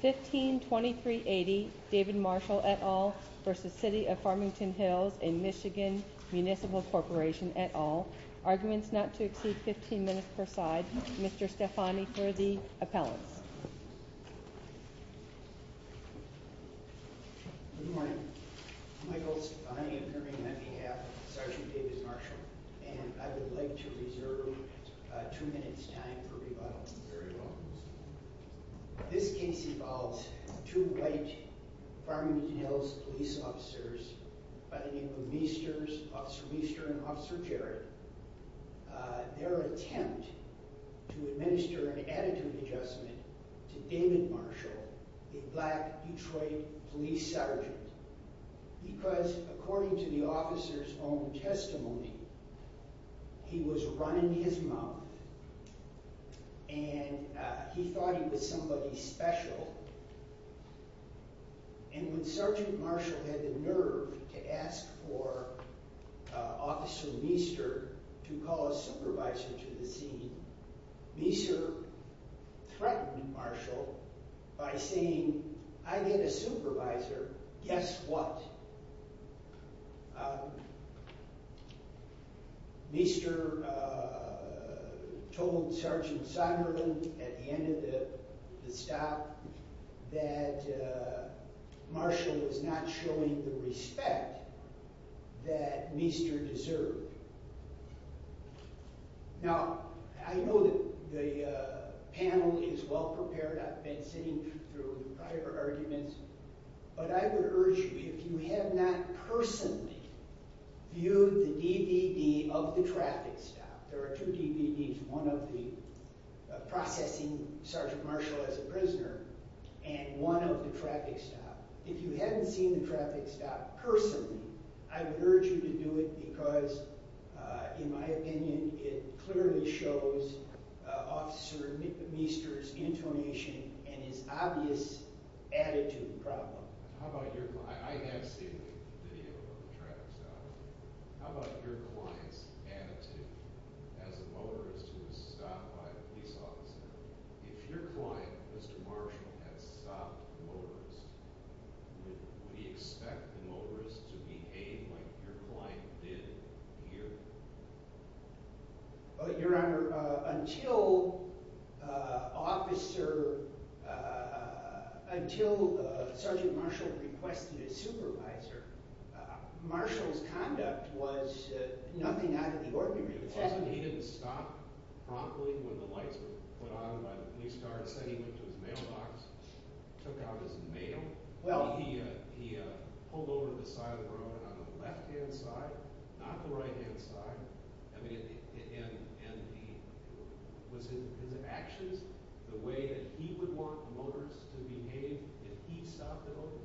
v. City of Farmington Hills v. Michigan Municipal Corporation, et al., Arguments not to exceed 15 minutes per side. Mr. Stefani for the appellants. Good morning. I'm Michael Stefani, appearing on behalf of Sgt. Davis Marshall, and I would like to reserve two minutes' time for rebuttal. Very well. This case involves two white Farmington Hills police officers by the name of Meesters, Officer Meester and Officer Jarrett. Their attempt to administer an additive adjustment to David Marshall, a black Detroit police sergeant. Because according to the officer's own testimony, he was running his mouth and he thought he was somebody special. And when Sgt. Marshall had the nerve to ask for Officer Meester to call a supervisor to the scene, Meester threatened Marshall by saying, I get a supervisor, guess what? Meester told Sgt. Somerville at the end of the stop that Marshall was not showing the respect that Meester deserved. Now, I know that the panel is well prepared. I've been sitting through the prior arguments. But I would urge you, if you have not personally viewed the DVD of the traffic stop, there are two DVDs, one of the processing Sgt. Marshall as a prisoner and one of the traffic stop. If you haven't seen the traffic stop personally, I would urge you to do it because, in my opinion, it clearly shows Officer Meester's intonation and his obvious attitude problem. I have seen the video of the traffic stop. How about your client's attitude as a motorist who was stopped by a police officer? If your client, Mr. Marshall, had stopped the motorist, would he expect the motorist to behave like your client did here? Your Honor, until Sgt. Marshall requested a supervisor, Marshall's conduct was nothing out of the ordinary. He didn't stop promptly when the lights were put on by the police car. Instead, he went to his mailbox and took out his mail. He pulled over to the side of the road on the left-hand side, not the right-hand side. Was his actions the way that he would want the motorist to behave if he stopped the motorist?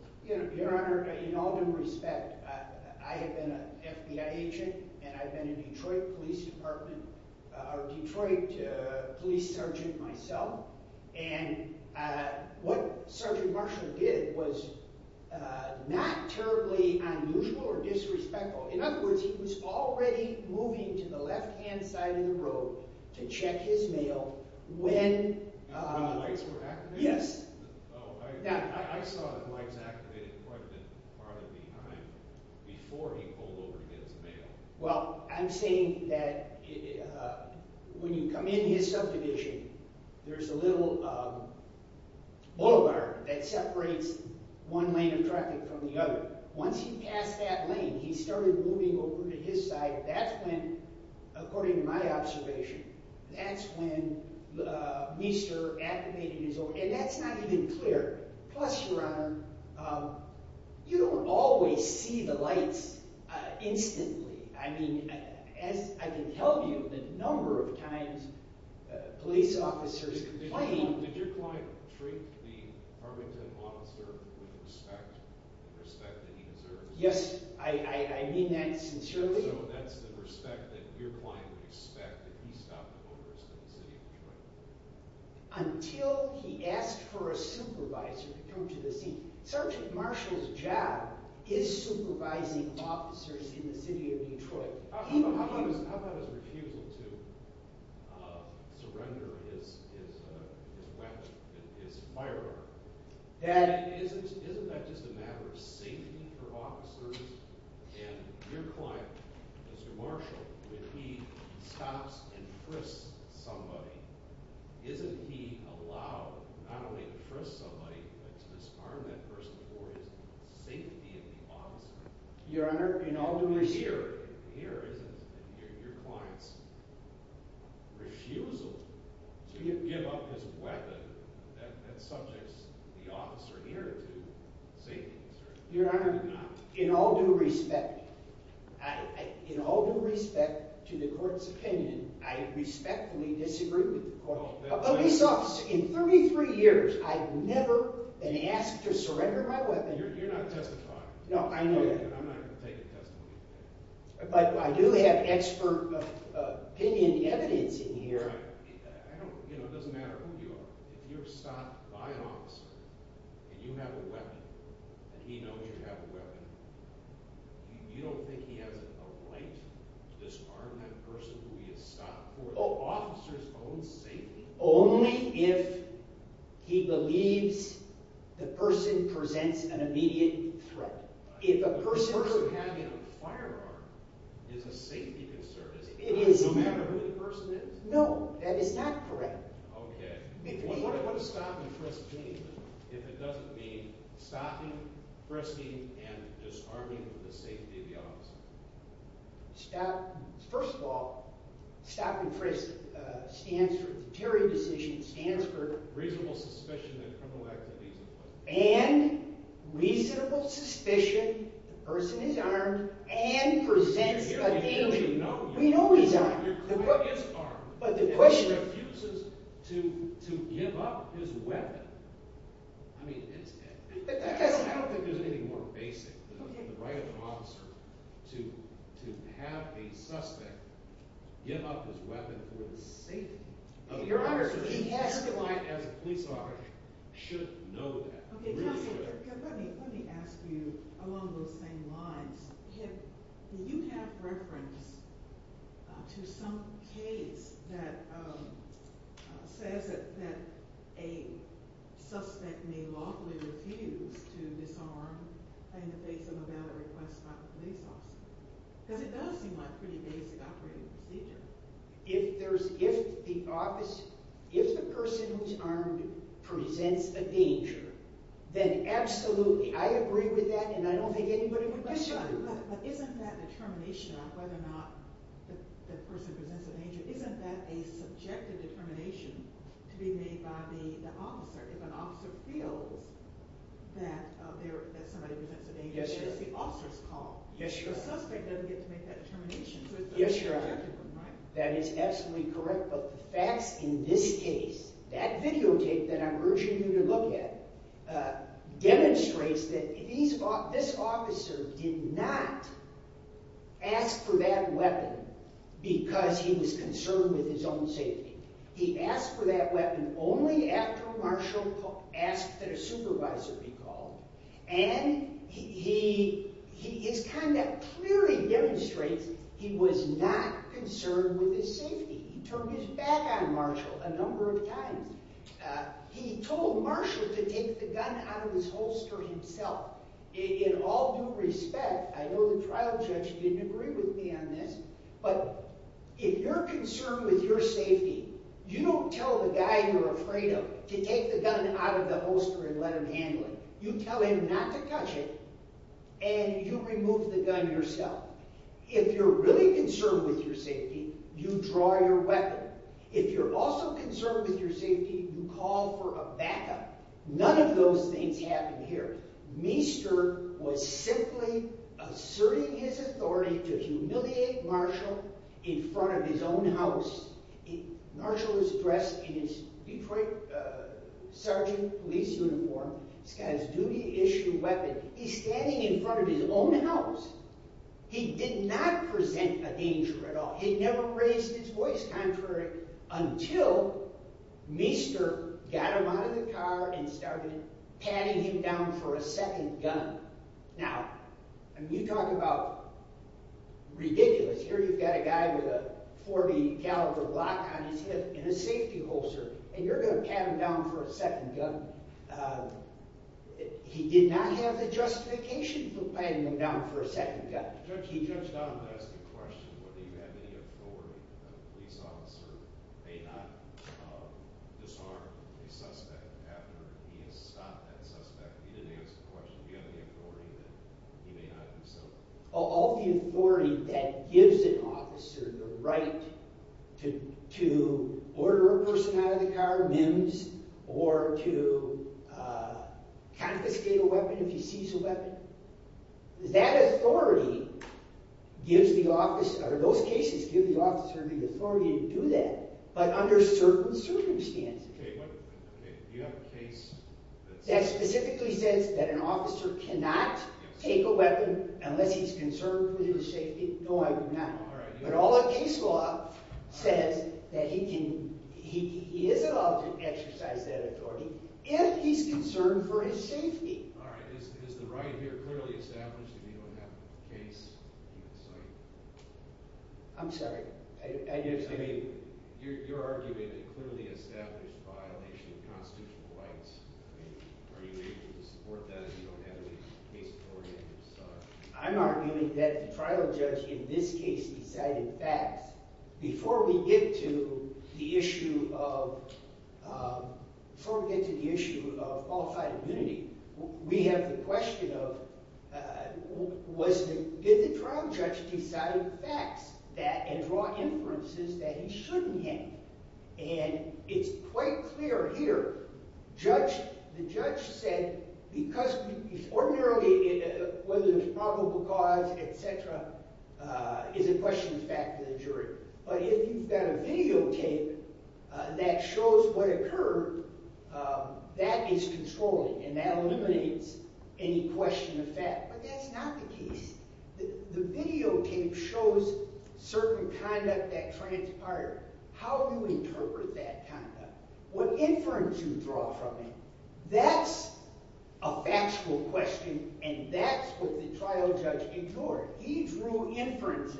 Your Honor, in all due respect, I have been an FBI agent and I've been a Detroit police sergeant myself. What Sgt. Marshall did was not terribly unusual or disrespectful. In other words, he was already moving to the left-hand side of the road to check his mail when the lights were activated. I saw the lights activated quite a bit farther behind before he pulled over to get his mail. That's not even clear. Plus, Your Honor, you don't always see the lights instantly. I mean, as I can tell you, the number of times police officers complain... Did your client treat the Farmington Monster with the respect that he deserves? Yes, I mean that sincerely. So that's the respect that your client would expect if he stopped the motorist in the city of Detroit? Until he asked for a supervisor to come to the scene. Sgt. Marshall's job is supervising officers in the city of Detroit. How about his refusal to surrender his weapon, his firearm? Isn't that just a matter of safety for officers? And your client, Sgt. Marshall, when he stops and frisks somebody... Isn't he allowed not only to frisk somebody, but to disarm that person for his safety of the officer? Your Honor, in all due respect... Here, isn't your client's refusal to give up his weapon that subjects the officer here to safety concerns? Your Honor, in all due respect to the court's opinion, I respectfully disagree with the court. A police officer, in 33 years, I've never been asked to surrender my weapon. You're not testifying. No, I know that. I'm not going to take a testimony. But I do have expert opinion evidence in here. It doesn't matter who you are. If you're stopped by an officer, and you have a weapon, and he knows you have a weapon, you don't think he has a right to disarm that person who he has stopped for the officer's own safety? Only if he believes the person presents an immediate threat. If a person... The person having a firearm is a safety concern. It doesn't matter who the person is. No, that is not correct. Okay. What does stop and frisk mean? If it doesn't mean stopping, frisking, and disarming for the safety of the officer. Stop... First of all, stop and frisk stands for the jury decision, stands for... Reasonable suspicion that criminal activity is in place. And reasonable suspicion the person is armed and presents a danger. We know he's armed. But the question... If he refuses to give up his weapon, I mean, it's... I don't think there's anything more basic than the right of an officer to have a suspect give up his weapon for the safety of the officer. Your Honor, he has to... He, as a police officer, should know that. Okay, counsel, let me ask you along those same lines. Do you have reference to some case that says that a suspect may lawfully refuse to disarm in the face of a valid request by the police officer? Because it does seem like a pretty basic operating procedure. If there's... If the officer... If the person who's armed presents a danger, then absolutely. I agree with that, and I don't think anybody would question that. But isn't that determination on whether or not the person presents a danger, isn't that a subjective determination to be made by the officer? If an officer feels that somebody presents a danger, it's the officer's call. Yes, Your Honor. The suspect doesn't get to make that determination. Yes, Your Honor. That is absolutely correct. But the facts in this case, that videotape that I'm urging you to look at, demonstrates that this officer did not ask for that weapon because he was concerned with his own safety. He asked for that weapon only after Marshall asked that a supervisor be called. And his conduct clearly demonstrates he was not concerned with his safety. He turned his back on Marshall a number of times. He told Marshall to take the gun out of his holster himself. In all due respect, I know the trial judge didn't agree with me on this, but if you're concerned with your safety, you don't tell the guy you're afraid of to take the gun out of the holster and let him handle it. You tell him not to touch it, and you remove the gun yourself. If you're really concerned with your safety, you draw your weapon. If you're also concerned with your safety, you call for a backup. None of those things happen here. Meester was simply asserting his authority to humiliate Marshall in front of his own house. Marshall is dressed in his Detroit sergeant police uniform. He's got his duty-issue weapon. He's standing in front of his own house. He did not present a danger at all. He never raised his voice contrary until Meester got him out of the car and started patting him down for a second gun. Now, you talk about ridiculous. Here you've got a guy with a .40-caliber block on his hip in a safety holster, and you're going to pat him down for a second gun. He did not have the justification for patting him down for a second gun. He touched on the question whether you have any authority that a police officer may not disarm a suspect after he has stopped that suspect. He didn't answer the question. Do you have any authority that he may not do so? All the authority that gives an officer the right to order a person out of the car, mims, or to confiscate a weapon if he sees a weapon. That authority gives the officer – or those cases give the officer the authority to do that, but under certain circumstances. Okay. Do you have a case that's – That specifically says that an officer cannot take a weapon unless he's concerned for his safety? No, I do not. All right. But all the case law says that he can – he is allowed to exercise that authority if he's concerned for his safety. All right. Is the right here clearly established if you don't have a case at the site? I'm sorry. I didn't understand. I mean, you're arguing a clearly established violation of constitutional rights. I mean, are you able to support that if you don't have a case in front of you? I'm arguing that the trial judge in this case decided facts. Before we get to the issue of – before we get to the issue of qualified immunity, we have the question of was – did the trial judge decide facts that – and draw inferences that he shouldn't have? And it's quite clear here. Judge – the judge said because we – ordinarily, whether there's probable cause, et cetera, is a question of fact to the jury. But if you've got a videotape that shows what occurred, that is controlling, and that eliminates any question of fact. But that's not the case. The videotape shows certain conduct that transpired. How do you interpret that conduct? What inference do you draw from it? That's a factual question, and that's what the trial judge ignored. He drew inferences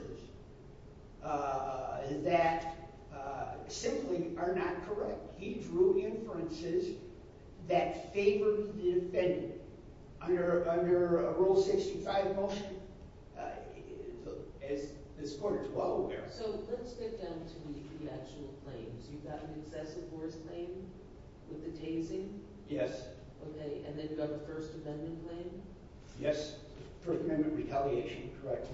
that simply are not correct. He drew inferences that favored the defendant. Under Rule 65 motion, as this court is well aware – So let's get down to the actual claims. You've got an excessive force claim with the tasing? Yes. Okay, and then you've got a First Amendment claim? Yes. First Amendment retaliation. Correct.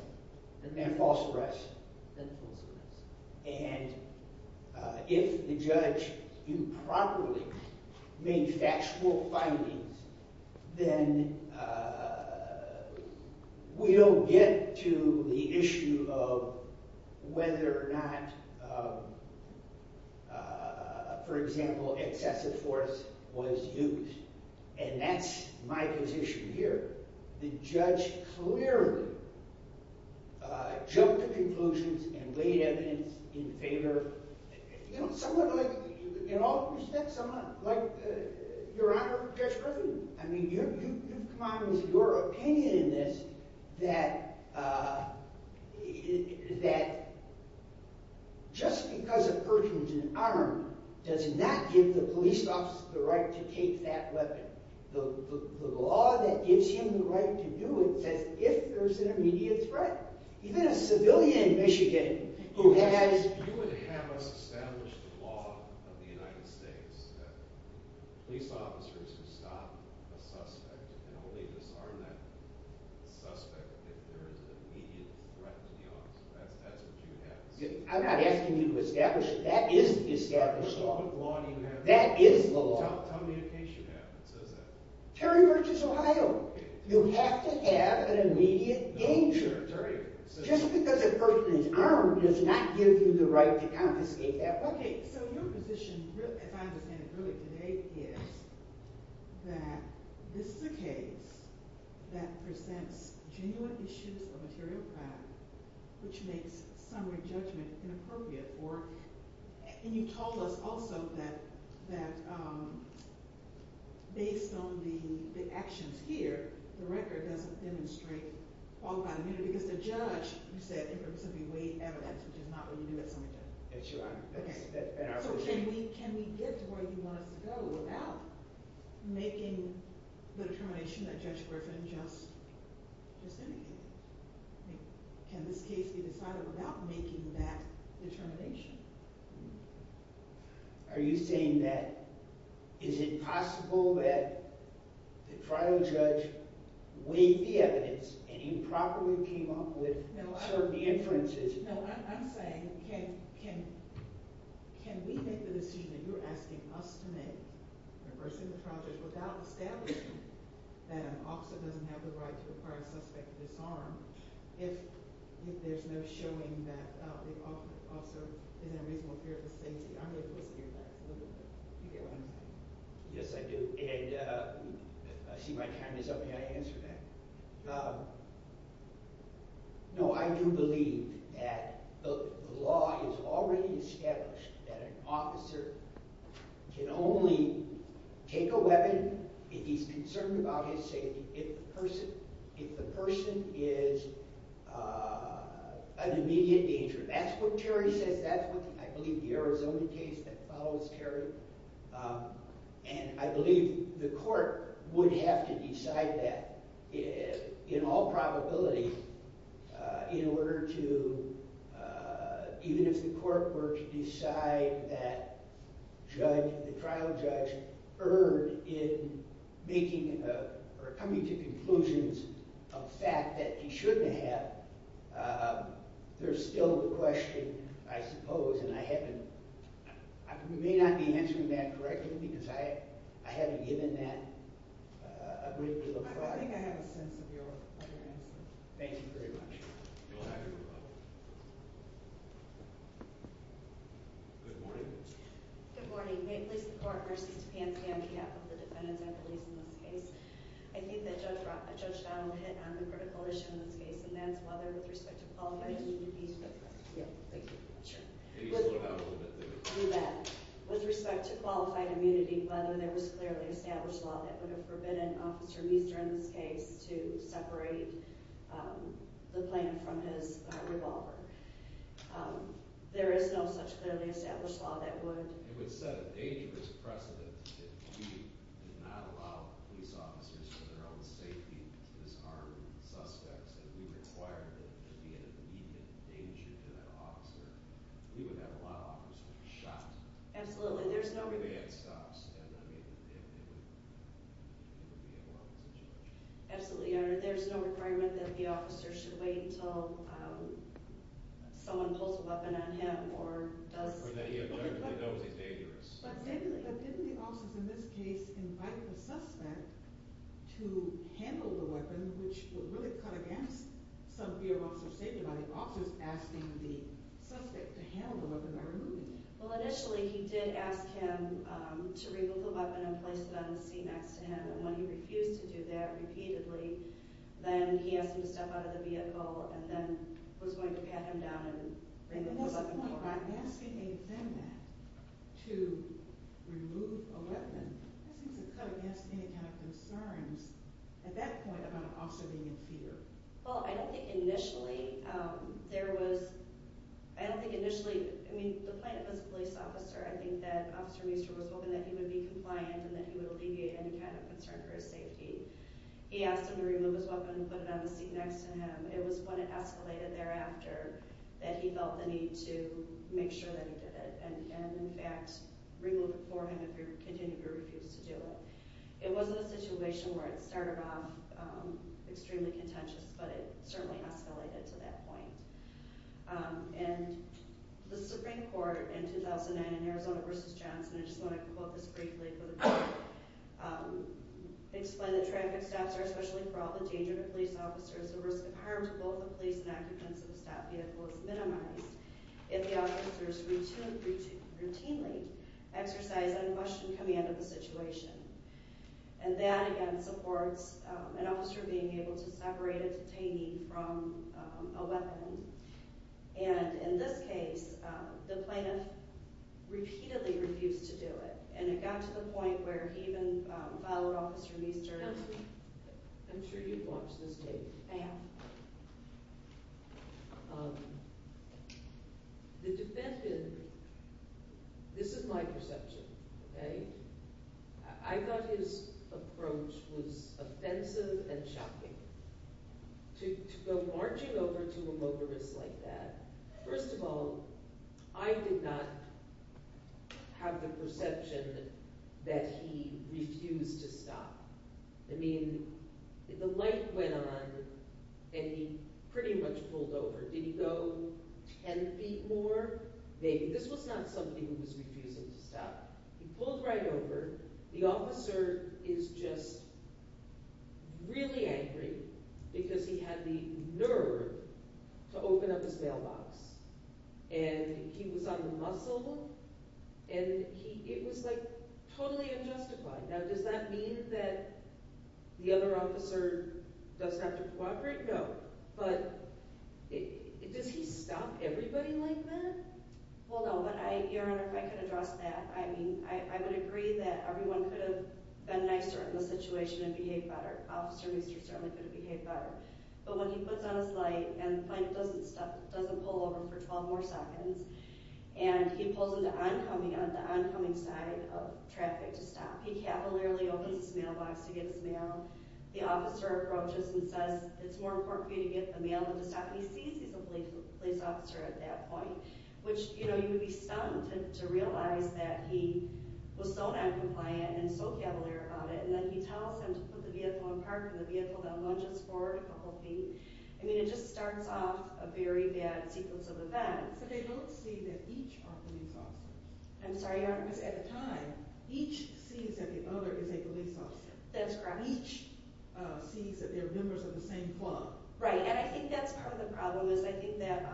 And then false arrest. Then false arrest. And if the judge improperly made factual findings, then we don't get to the issue of whether or not, for example, excessive force was used. And that's my position here. The judge clearly jumped to conclusions and laid evidence in favor. You know, someone like – in all respects, someone like Your Honor, Judge Griffin. I mean, you've come out with your opinion in this that just because a person's an arm does not give the police officer the right to take that weapon. The law that gives him the right to do it says if there's an immediate threat. Even a civilian in Michigan who has – You would have us establish the law of the United States that police officers who stop a suspect and only disarm that suspect if there is an immediate threat to the officer. That's what you have. I'm not asking you to establish it. That is the established law. What law do you have? That is the law. Tell me a case you have that says that. Terry V. Ohio. You have to have an immediate danger. Just because a person is armed does not give you the right to confiscate that weapon. Okay, so your position, as I understand it really today, is that this is a case that presents genuine issues of material crime, which makes summary judgment inappropriate for – And you told us also that based on the actions here, the record doesn't demonstrate qualified immunity because the judge, you said, in principle weighed evidence, which is not what you do at summary judgment. That's right. So can we get to where you want us to go without making the determination that Judge Griffin just indicated? Can this case be decided without making that determination? Are you saying that – is it possible that the trial judge weighed the evidence and improperly came up with certain inferences? No, I'm saying can we make the decision that you're asking us to make, reversing the trial judge, without establishing that an officer doesn't have the right to acquire a suspected disarm if there's no showing that the officer is in a reasonable fear of the safety? I'm really interested to hear that a little bit. Do you get what I'm saying? Yes, I do. And I see my time is up. May I answer that? No, I do believe that the law is already established that an officer can only take a weapon if he's concerned about his safety if the person is an immediate danger. That's what Terry says. That's what I believe the Arizona case that follows Terry. And I believe the court would have to decide that in all probability in order to – even if the court were to decide that the trial judge erred in making or coming to conclusions of fact that he shouldn't have, there's still the question, I suppose, and I haven't – I may not be answering that correctly because I haven't given that a great deal of thought. I think I have a sense of your answer. Thank you very much. You'll have your rebuttal. Good morning. Good morning. May it please the court, versus DePan, stand on behalf of the defendants' affiliates in this case? I think that Judge Donald hit on the critical issue in this case, and that's whether, with respect to Paul Fenton, he would be surprised. Thank you. With respect to qualified immunity, whether there was clearly established law that would have forbidden Officer Meester in this case to separate the plaintiff from his revolver, there is no such clearly established law that would – for their own safety to disarm suspects, and we require that there be an immediate danger to that officer. We would have a lot of officers shot. Absolutely. There's no – Every day it stops, and I mean, it would be a horrible situation. Absolutely, Your Honor. There's no requirement that the officer should wait until someone pulls a weapon on him or does – Or that he – that he knows he's dangerous. But didn't the officers in this case invite the suspect to handle the weapon, which would really cut against some fear officers' safety by the officers asking the suspect to handle the weapon by removing it? Well, initially he did ask him to remove the weapon and place it on the seat next to him, and when he refused to do that repeatedly, then he asked him to step out of the vehicle and then was going to pat him down and bring the weapon forward. So by asking a suspect to remove a weapon, that seems to cut against any kind of concerns at that point about an officer being in fear. Well, I don't think initially there was – I don't think initially – I mean, the plaintiff was a police officer. I think that Officer Meester was hoping that he would be compliant and that he would alleviate any kind of concern for his safety. He asked him to remove his weapon and put it on the seat next to him. It was when it escalated thereafter that he felt the need to make sure that he did it and, in fact, remove it for him if he continued to refuse to do it. It was a situation where it started off extremely contentious, but it certainly escalated to that point. And the Supreme Court in 2009 in Arizona v. Johnson – I just want to quote this briefly for the record – explained that traffic stops are especially for all the dangerous police officers. The risk of harm to both the police and occupants of the stopped vehicle is minimized if the officers routinely exercise unquestioned command of the situation. And that, again, supports an officer being able to separate a detainee from a weapon. And in this case, the plaintiff repeatedly refused to do it, and it got to the point where he even followed Officer Meester's – This is my perception, okay? I thought his approach was offensive and shocking. To go marching over to a motorist like that – first of all, I did not have the perception that he refused to stop. I mean, the light went on, and he pretty much pulled over. Did he go ten feet more? Maybe. This was not somebody who was refusing to stop. He pulled right over. The officer is just really angry because he had the nerve to open up his mailbox. And he was unmuscled, and it was, like, totally unjustified. Now, does that mean that the other officer does not have to cooperate? No. But does he stop everybody like that? Well, no, but, Your Honor, if I could address that. I mean, I would agree that everyone could have been nicer in the situation and behaved better. Officer Meester certainly could have behaved better. But when he puts on his light and the plaintiff doesn't pull over for 12 more seconds, and he pulls into the oncoming side of traffic to stop, he cavalierly opens his mailbox to get his mail. The officer approaches and says, it's more important for you to get the mail than to stop. He sees he's a police officer at that point, which, you know, you would be stunned to realize that he was so noncompliant and so cavalier about it, and then he tells him to put the vehicle in park, and the vehicle now lunges forward a couple feet. I mean, it just starts off a very bad sequence of events. But they don't see that each are police officers. I'm sorry, Your Honor. Because at the time, each sees that the other is a police officer. That's correct. Each sees that they're members of the same club. Right. And I think that's part of the problem, is I think that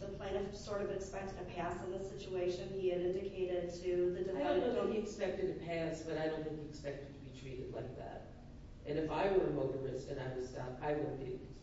the plaintiff sort of expected to pass in the situation he had indicated to the defendant. I don't think he expected to pass, but I don't think he expected to be treated like that. And if I were a motorist and I was stopped, I wouldn't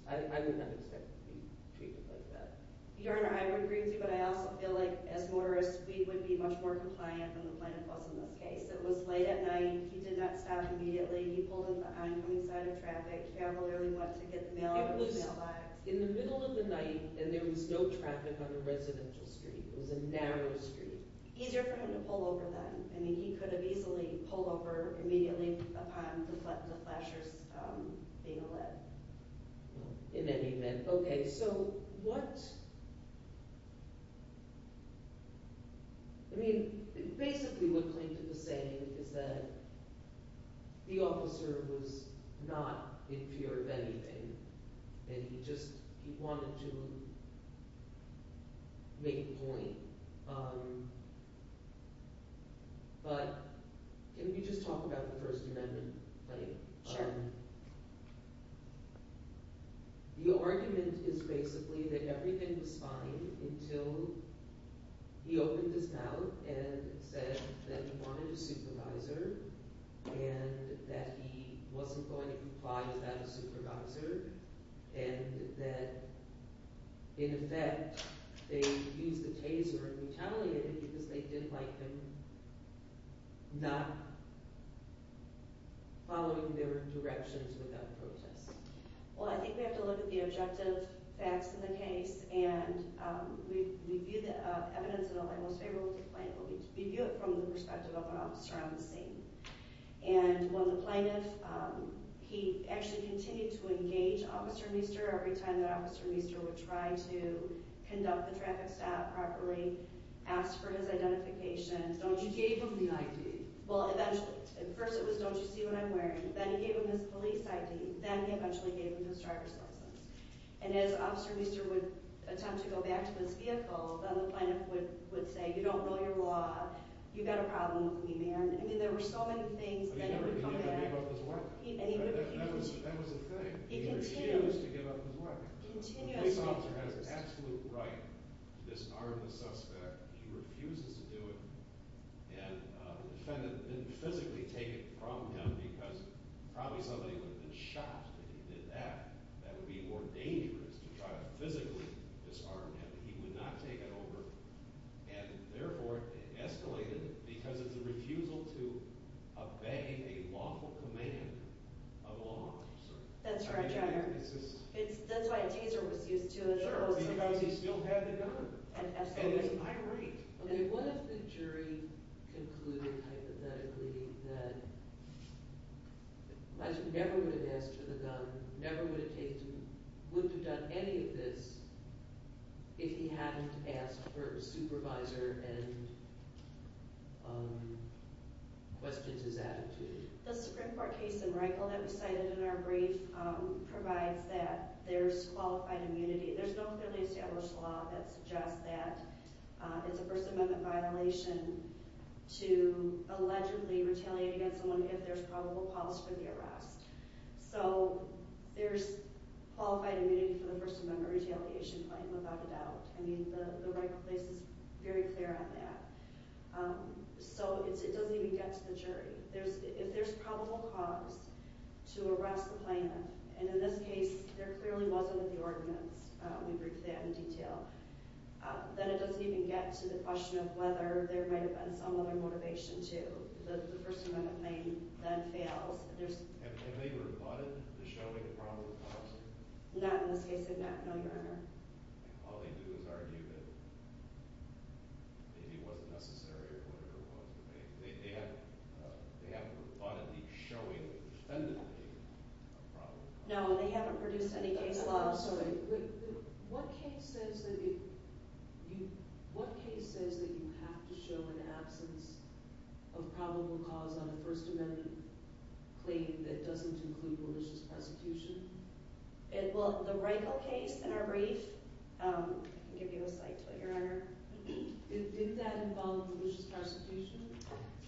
have expected to be treated like that. Your Honor, I would agree with you, but I also feel like, as motorists, we would be much more compliant than the plaintiff was in this case. It was late at night. He did not stop immediately. He pulled in behind on the side of traffic, cavalierly went to get the mail out of the mail box. It was in the middle of the night, and there was no traffic on the residential street. It was a narrow street. Easier for him to pull over then. I mean, he could have easily pulled over immediately upon the flashers being lit. In any event, okay. So what – I mean, basically what plaintiff is saying is that the officer was not in fear of anything, and he just – he wanted to make a point. But can we just talk about the First Amendment later? Sure. The argument is basically that everything was fine until he opened his mouth and said that he wanted a supervisor and that he wasn't going to comply without a supervisor and that, in effect, they used the taser and retaliated because they didn't like him not following their directions without protest. Well, I think we have to look at the objective facts in the case and review the evidence and all that most favorable to the plaintiff. We review it from the perspective of an officer on the scene. And when the plaintiff – he actually continued to engage Officer Meester every time that Officer Meester would try to conduct the traffic stop properly, ask for his identification. Don't you gave him the ID? Well, eventually. At first it was, don't you see what I'm wearing? Then he gave him his police ID. Then he eventually gave him his driver's license. And as Officer Meester would attempt to go back to his vehicle, then the plaintiff would say, you don't know your law. You've got a problem with me, man. I mean, there were so many things that would come to that. But he never gave up his work. That was the thing. He continued. He refused to give up his work. The police officer has absolute right to disarm the suspect. He refuses to do it. And the defendant didn't physically take it from him because probably somebody would have been shot if he did that. That would be more dangerous to try to physically disarm him. But he would not take it over. And, therefore, it escalated because of the refusal to obey a lawful command of law. That's right. That's why a teaser was used, too. Sure, because he still had the gun. And escalated. I agree. Okay, what if the jury concluded, hypothetically, that Meester never would have asked for the gun, never would have taken it, wouldn't have done any of this if he hadn't asked for a supervisor and questioned his attitude? The Supreme Court case in Reichel that was cited in our brief provides that there's qualified immunity. There's no clearly established law that suggests that it's a First Amendment violation to allegedly retaliate against someone if there's probable cause for the arrest. So there's qualified immunity for the First Amendment retaliation claim, without a doubt. I mean, the right place is very clear on that. So it doesn't even get to the jury. If there's probable cause to arrest the plaintiff, and in this case, there clearly wasn't in the ordinance. We briefed that in detail. Then it doesn't even get to the question of whether there might have been some other motivation, too. The First Amendment claim then fails. And they rebutted the showing of probable cause? Not in this case, no, Your Honor. All they do is argue that it wasn't necessary or whatever it was. They haven't rebutted the showing of the defendant being a probable cause? No, they haven't produced any case law. What case says that you have to show an absence of probable cause on a First Amendment claim that doesn't include malicious prosecution? Well, the Reichel case in our brief – I can give you a slight tweet, Your Honor. Did that involve malicious prosecution?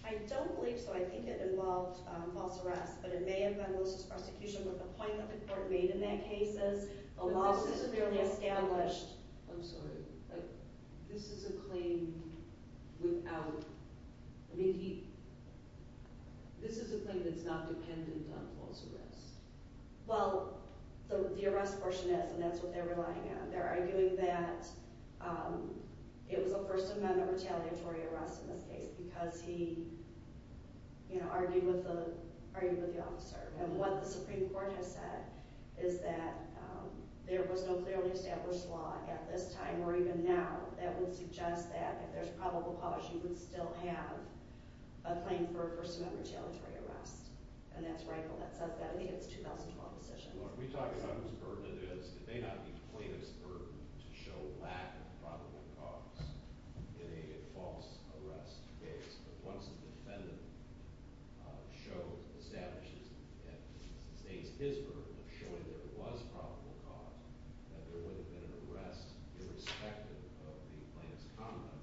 I don't believe so. I think it involved false arrest. But it may have been malicious prosecution, but the point that the court made in that case is the law was severely established. I'm sorry, but this is a claim without – I mean, he – this is a claim that's not dependent on false arrest. Well, the arrest portion is, and that's what they're relying on. They're arguing that it was a First Amendment retaliatory arrest in this case because he, you know, argued with the officer. And what the Supreme Court has said is that there was no clearly established law at this time or even now that would suggest that if there's probable cause, you would still have a claim for a First Amendment retaliatory arrest. And that's Reichel that says that. I think it's a 2012 decision. Well, are we talking about whose burden it is? It may not be the plaintiff's burden to show lack of probable cause in a false arrest case. But once the defendant shows – establishes and states his burden of showing there was probable cause, that there would have been an arrest irrespective of the plaintiff's conduct.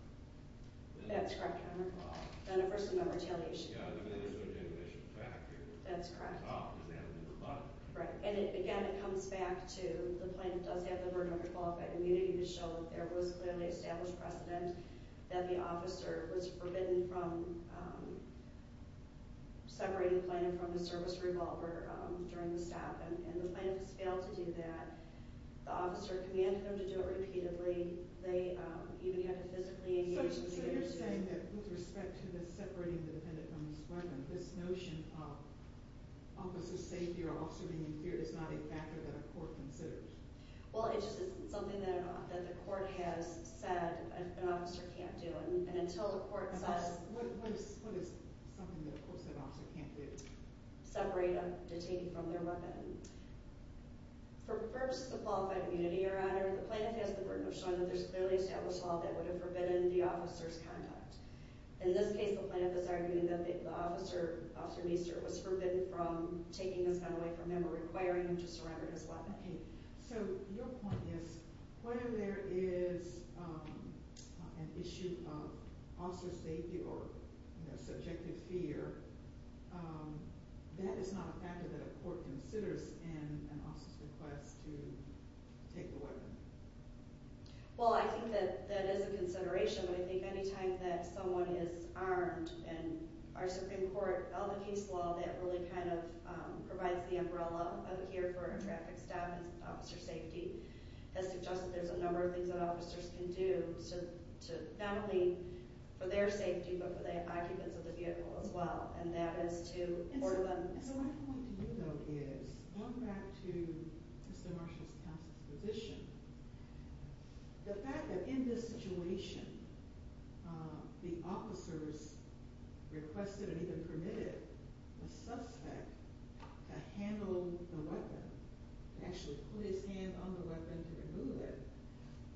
That's correct, Your Honor. On a First Amendment retaliation. Yeah, I mean, there's no generation fact here. That's correct. Right. And again, it comes back to the plaintiff does have the burden of qualified immunity to show there was clearly established precedent that the officer was forbidden from separating the plaintiff from the service revolver during the stop. And the plaintiff has failed to do that. The officer commanded them to do it repeatedly. So you're saying that with respect to this separating the defendant from his weapon, this notion of officer's safety or officer being feared is not a factor that a court considers? Well, it's just something that the court has said an officer can't do. And until the court says – What is something that a court said an officer can't do? Separate a detainee from their weapon. For purposes of qualified immunity, Your Honor, the plaintiff has the burden of showing that there's clearly established law that would have forbidden the officer's conduct. In this case, the plaintiff is arguing that the officer, Officer Meester, was forbidden from taking this gun away from him or requiring him to surrender his weapon. So your point is, when there is an issue of officer safety or subjective fear, that is not a factor that a court considers in an officer's request to take the weapon. Well, I think that that is a consideration. But I think any time that someone is armed, and our Supreme Court, all the case law that really kind of provides the umbrella up here for a traffic stop and officer safety, has suggested there's a number of things that officers can do, not only for their safety, but for the occupants of the vehicle as well. And that is to – So my point to you though is, going back to Mr. Marshall's counsel's position, the fact that in this situation, the officers requested and even permitted the suspect to handle the weapon, actually put his hand on the weapon to remove it,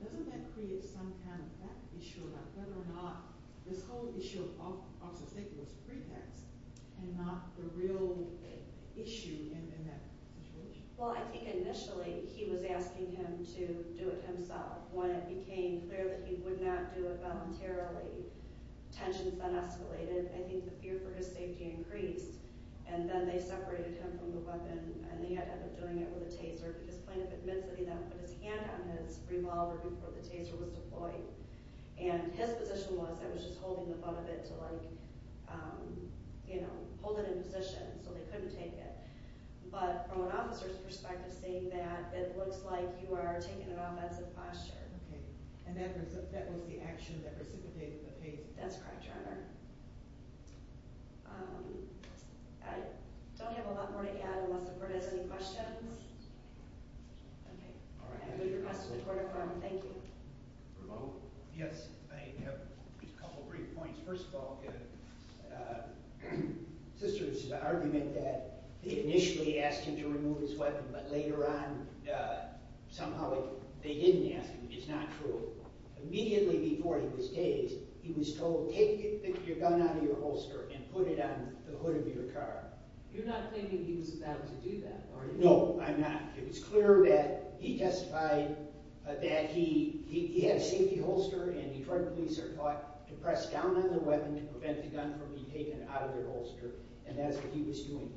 doesn't that create some kind of fact issue about whether or not this whole issue of officer safety was pretext and not the real issue in that situation? Well, I think initially, he was asking him to do it himself. When it became clear that he would not do it voluntarily, tensions then escalated, and I think the fear for his safety increased. And then they separated him from the weapon, and he ended up doing it with a taser, because plaintiff admits that he then put his hand on his revolver before the taser was deployed. And his position was that he was just holding the butt of it to, like, you know, hold it in position so they couldn't take it. But from an officer's perspective, saying that, it looks like you are taking an offensive posture. Okay. And that was the action that precipitated the case? That's correct, Your Honor. I don't have a lot more to add unless the court has any questions. Okay. All right. I move your request to the court of arm. Thank you. Yes, I have a couple of brief points. First of all, sister's argument that they initially asked him to remove his weapon, but later on, somehow they didn't ask him, is not true. Immediately before he was tased, he was told, take your gun out of your holster and put it on the hood of your car. You're not claiming he was about to do that, are you? No, I'm not. It was clear that he testified that he had a safety holster, and the Detroit police are taught to press down on the weapon to prevent the gun from being taken out of your holster, and that is what he was doing.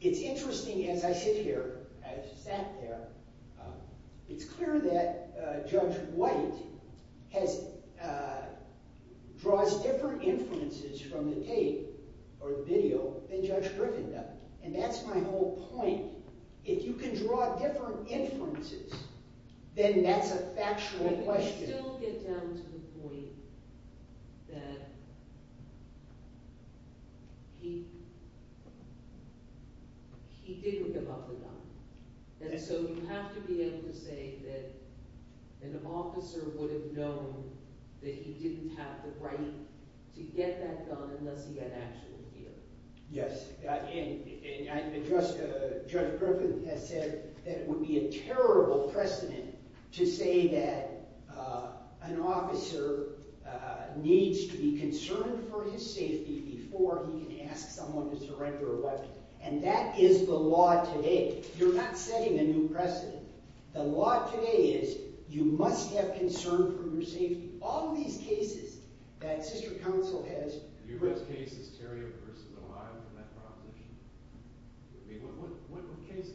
It's interesting, as I sit here, as I sat there, it's clear that Judge White draws different inferences from the tape or the video than Judge Griffin does, and that's my whole point. If you can draw different inferences, then that's a factual question. I still get down to the point that he didn't give up the gun, and so you have to be able to say that an officer would have known that he didn't have the right to get that gun unless he had an actual fear. Yes, and Judge Griffin has said that it would be a terrible precedent to say that an officer needs to be concerned for his safety before he can ask someone to surrender a weapon, and that is the law today. You're not setting a new precedent. The law today is you must have concern for your safety. All of these cases that sister counsel has… The U.S. case is Terry v. O'Reilly in that proposition. I mean, what were the cases?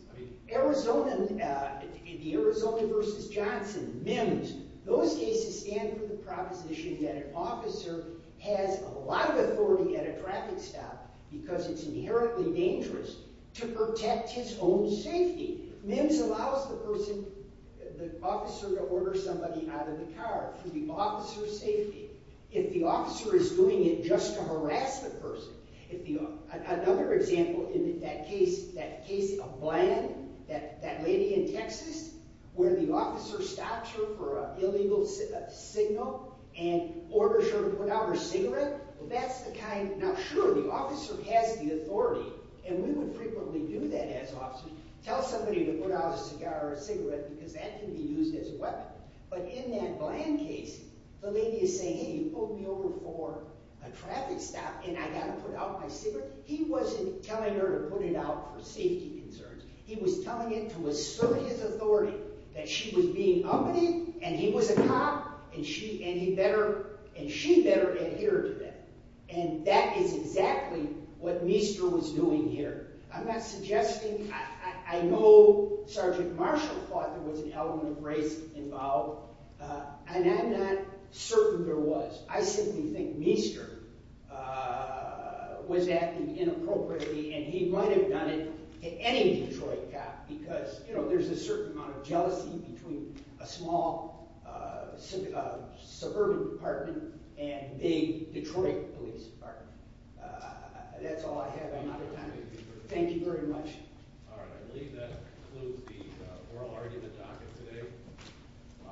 Arizona, the Arizona v. Johnson, MIMS, those cases stand for the proposition that an officer has a lot of authority at a traffic stop because it's inherently dangerous to protect his own safety. MIMS allows the person, the officer, to order somebody out of the car for the officer's safety. If the officer is doing it just to harass the person, another example in that case, that case of Bland, that lady in Texas, where the officer stops her for an illegal signal and orders her to put out her cigarette, well, that's the kind… Now, sure, the officer has the authority, and we would frequently do that as officers, tell somebody to put out a cigar or a cigarette because that can be used as a weapon. But in that Bland case, the lady is saying, hey, you pulled me over for a traffic stop, and I got to put out my cigarette. He wasn't telling her to put it out for safety concerns. He was telling it to assert his authority, that she was being ugly, and he was a cop, and she better adhere to that. And that is exactly what Meester was doing here. I'm not suggesting – I know Sergeant Marshall thought there was an element of grace involved, and I'm not certain there was. I simply think Meester was acting inappropriately, and he might have done it to any Detroit cop because there's a certain amount of jealousy between a small suburban department and a big Detroit police department. That's all I have. I'm out of time. Thank you very much. All right, I believe that concludes the oral argument docket today.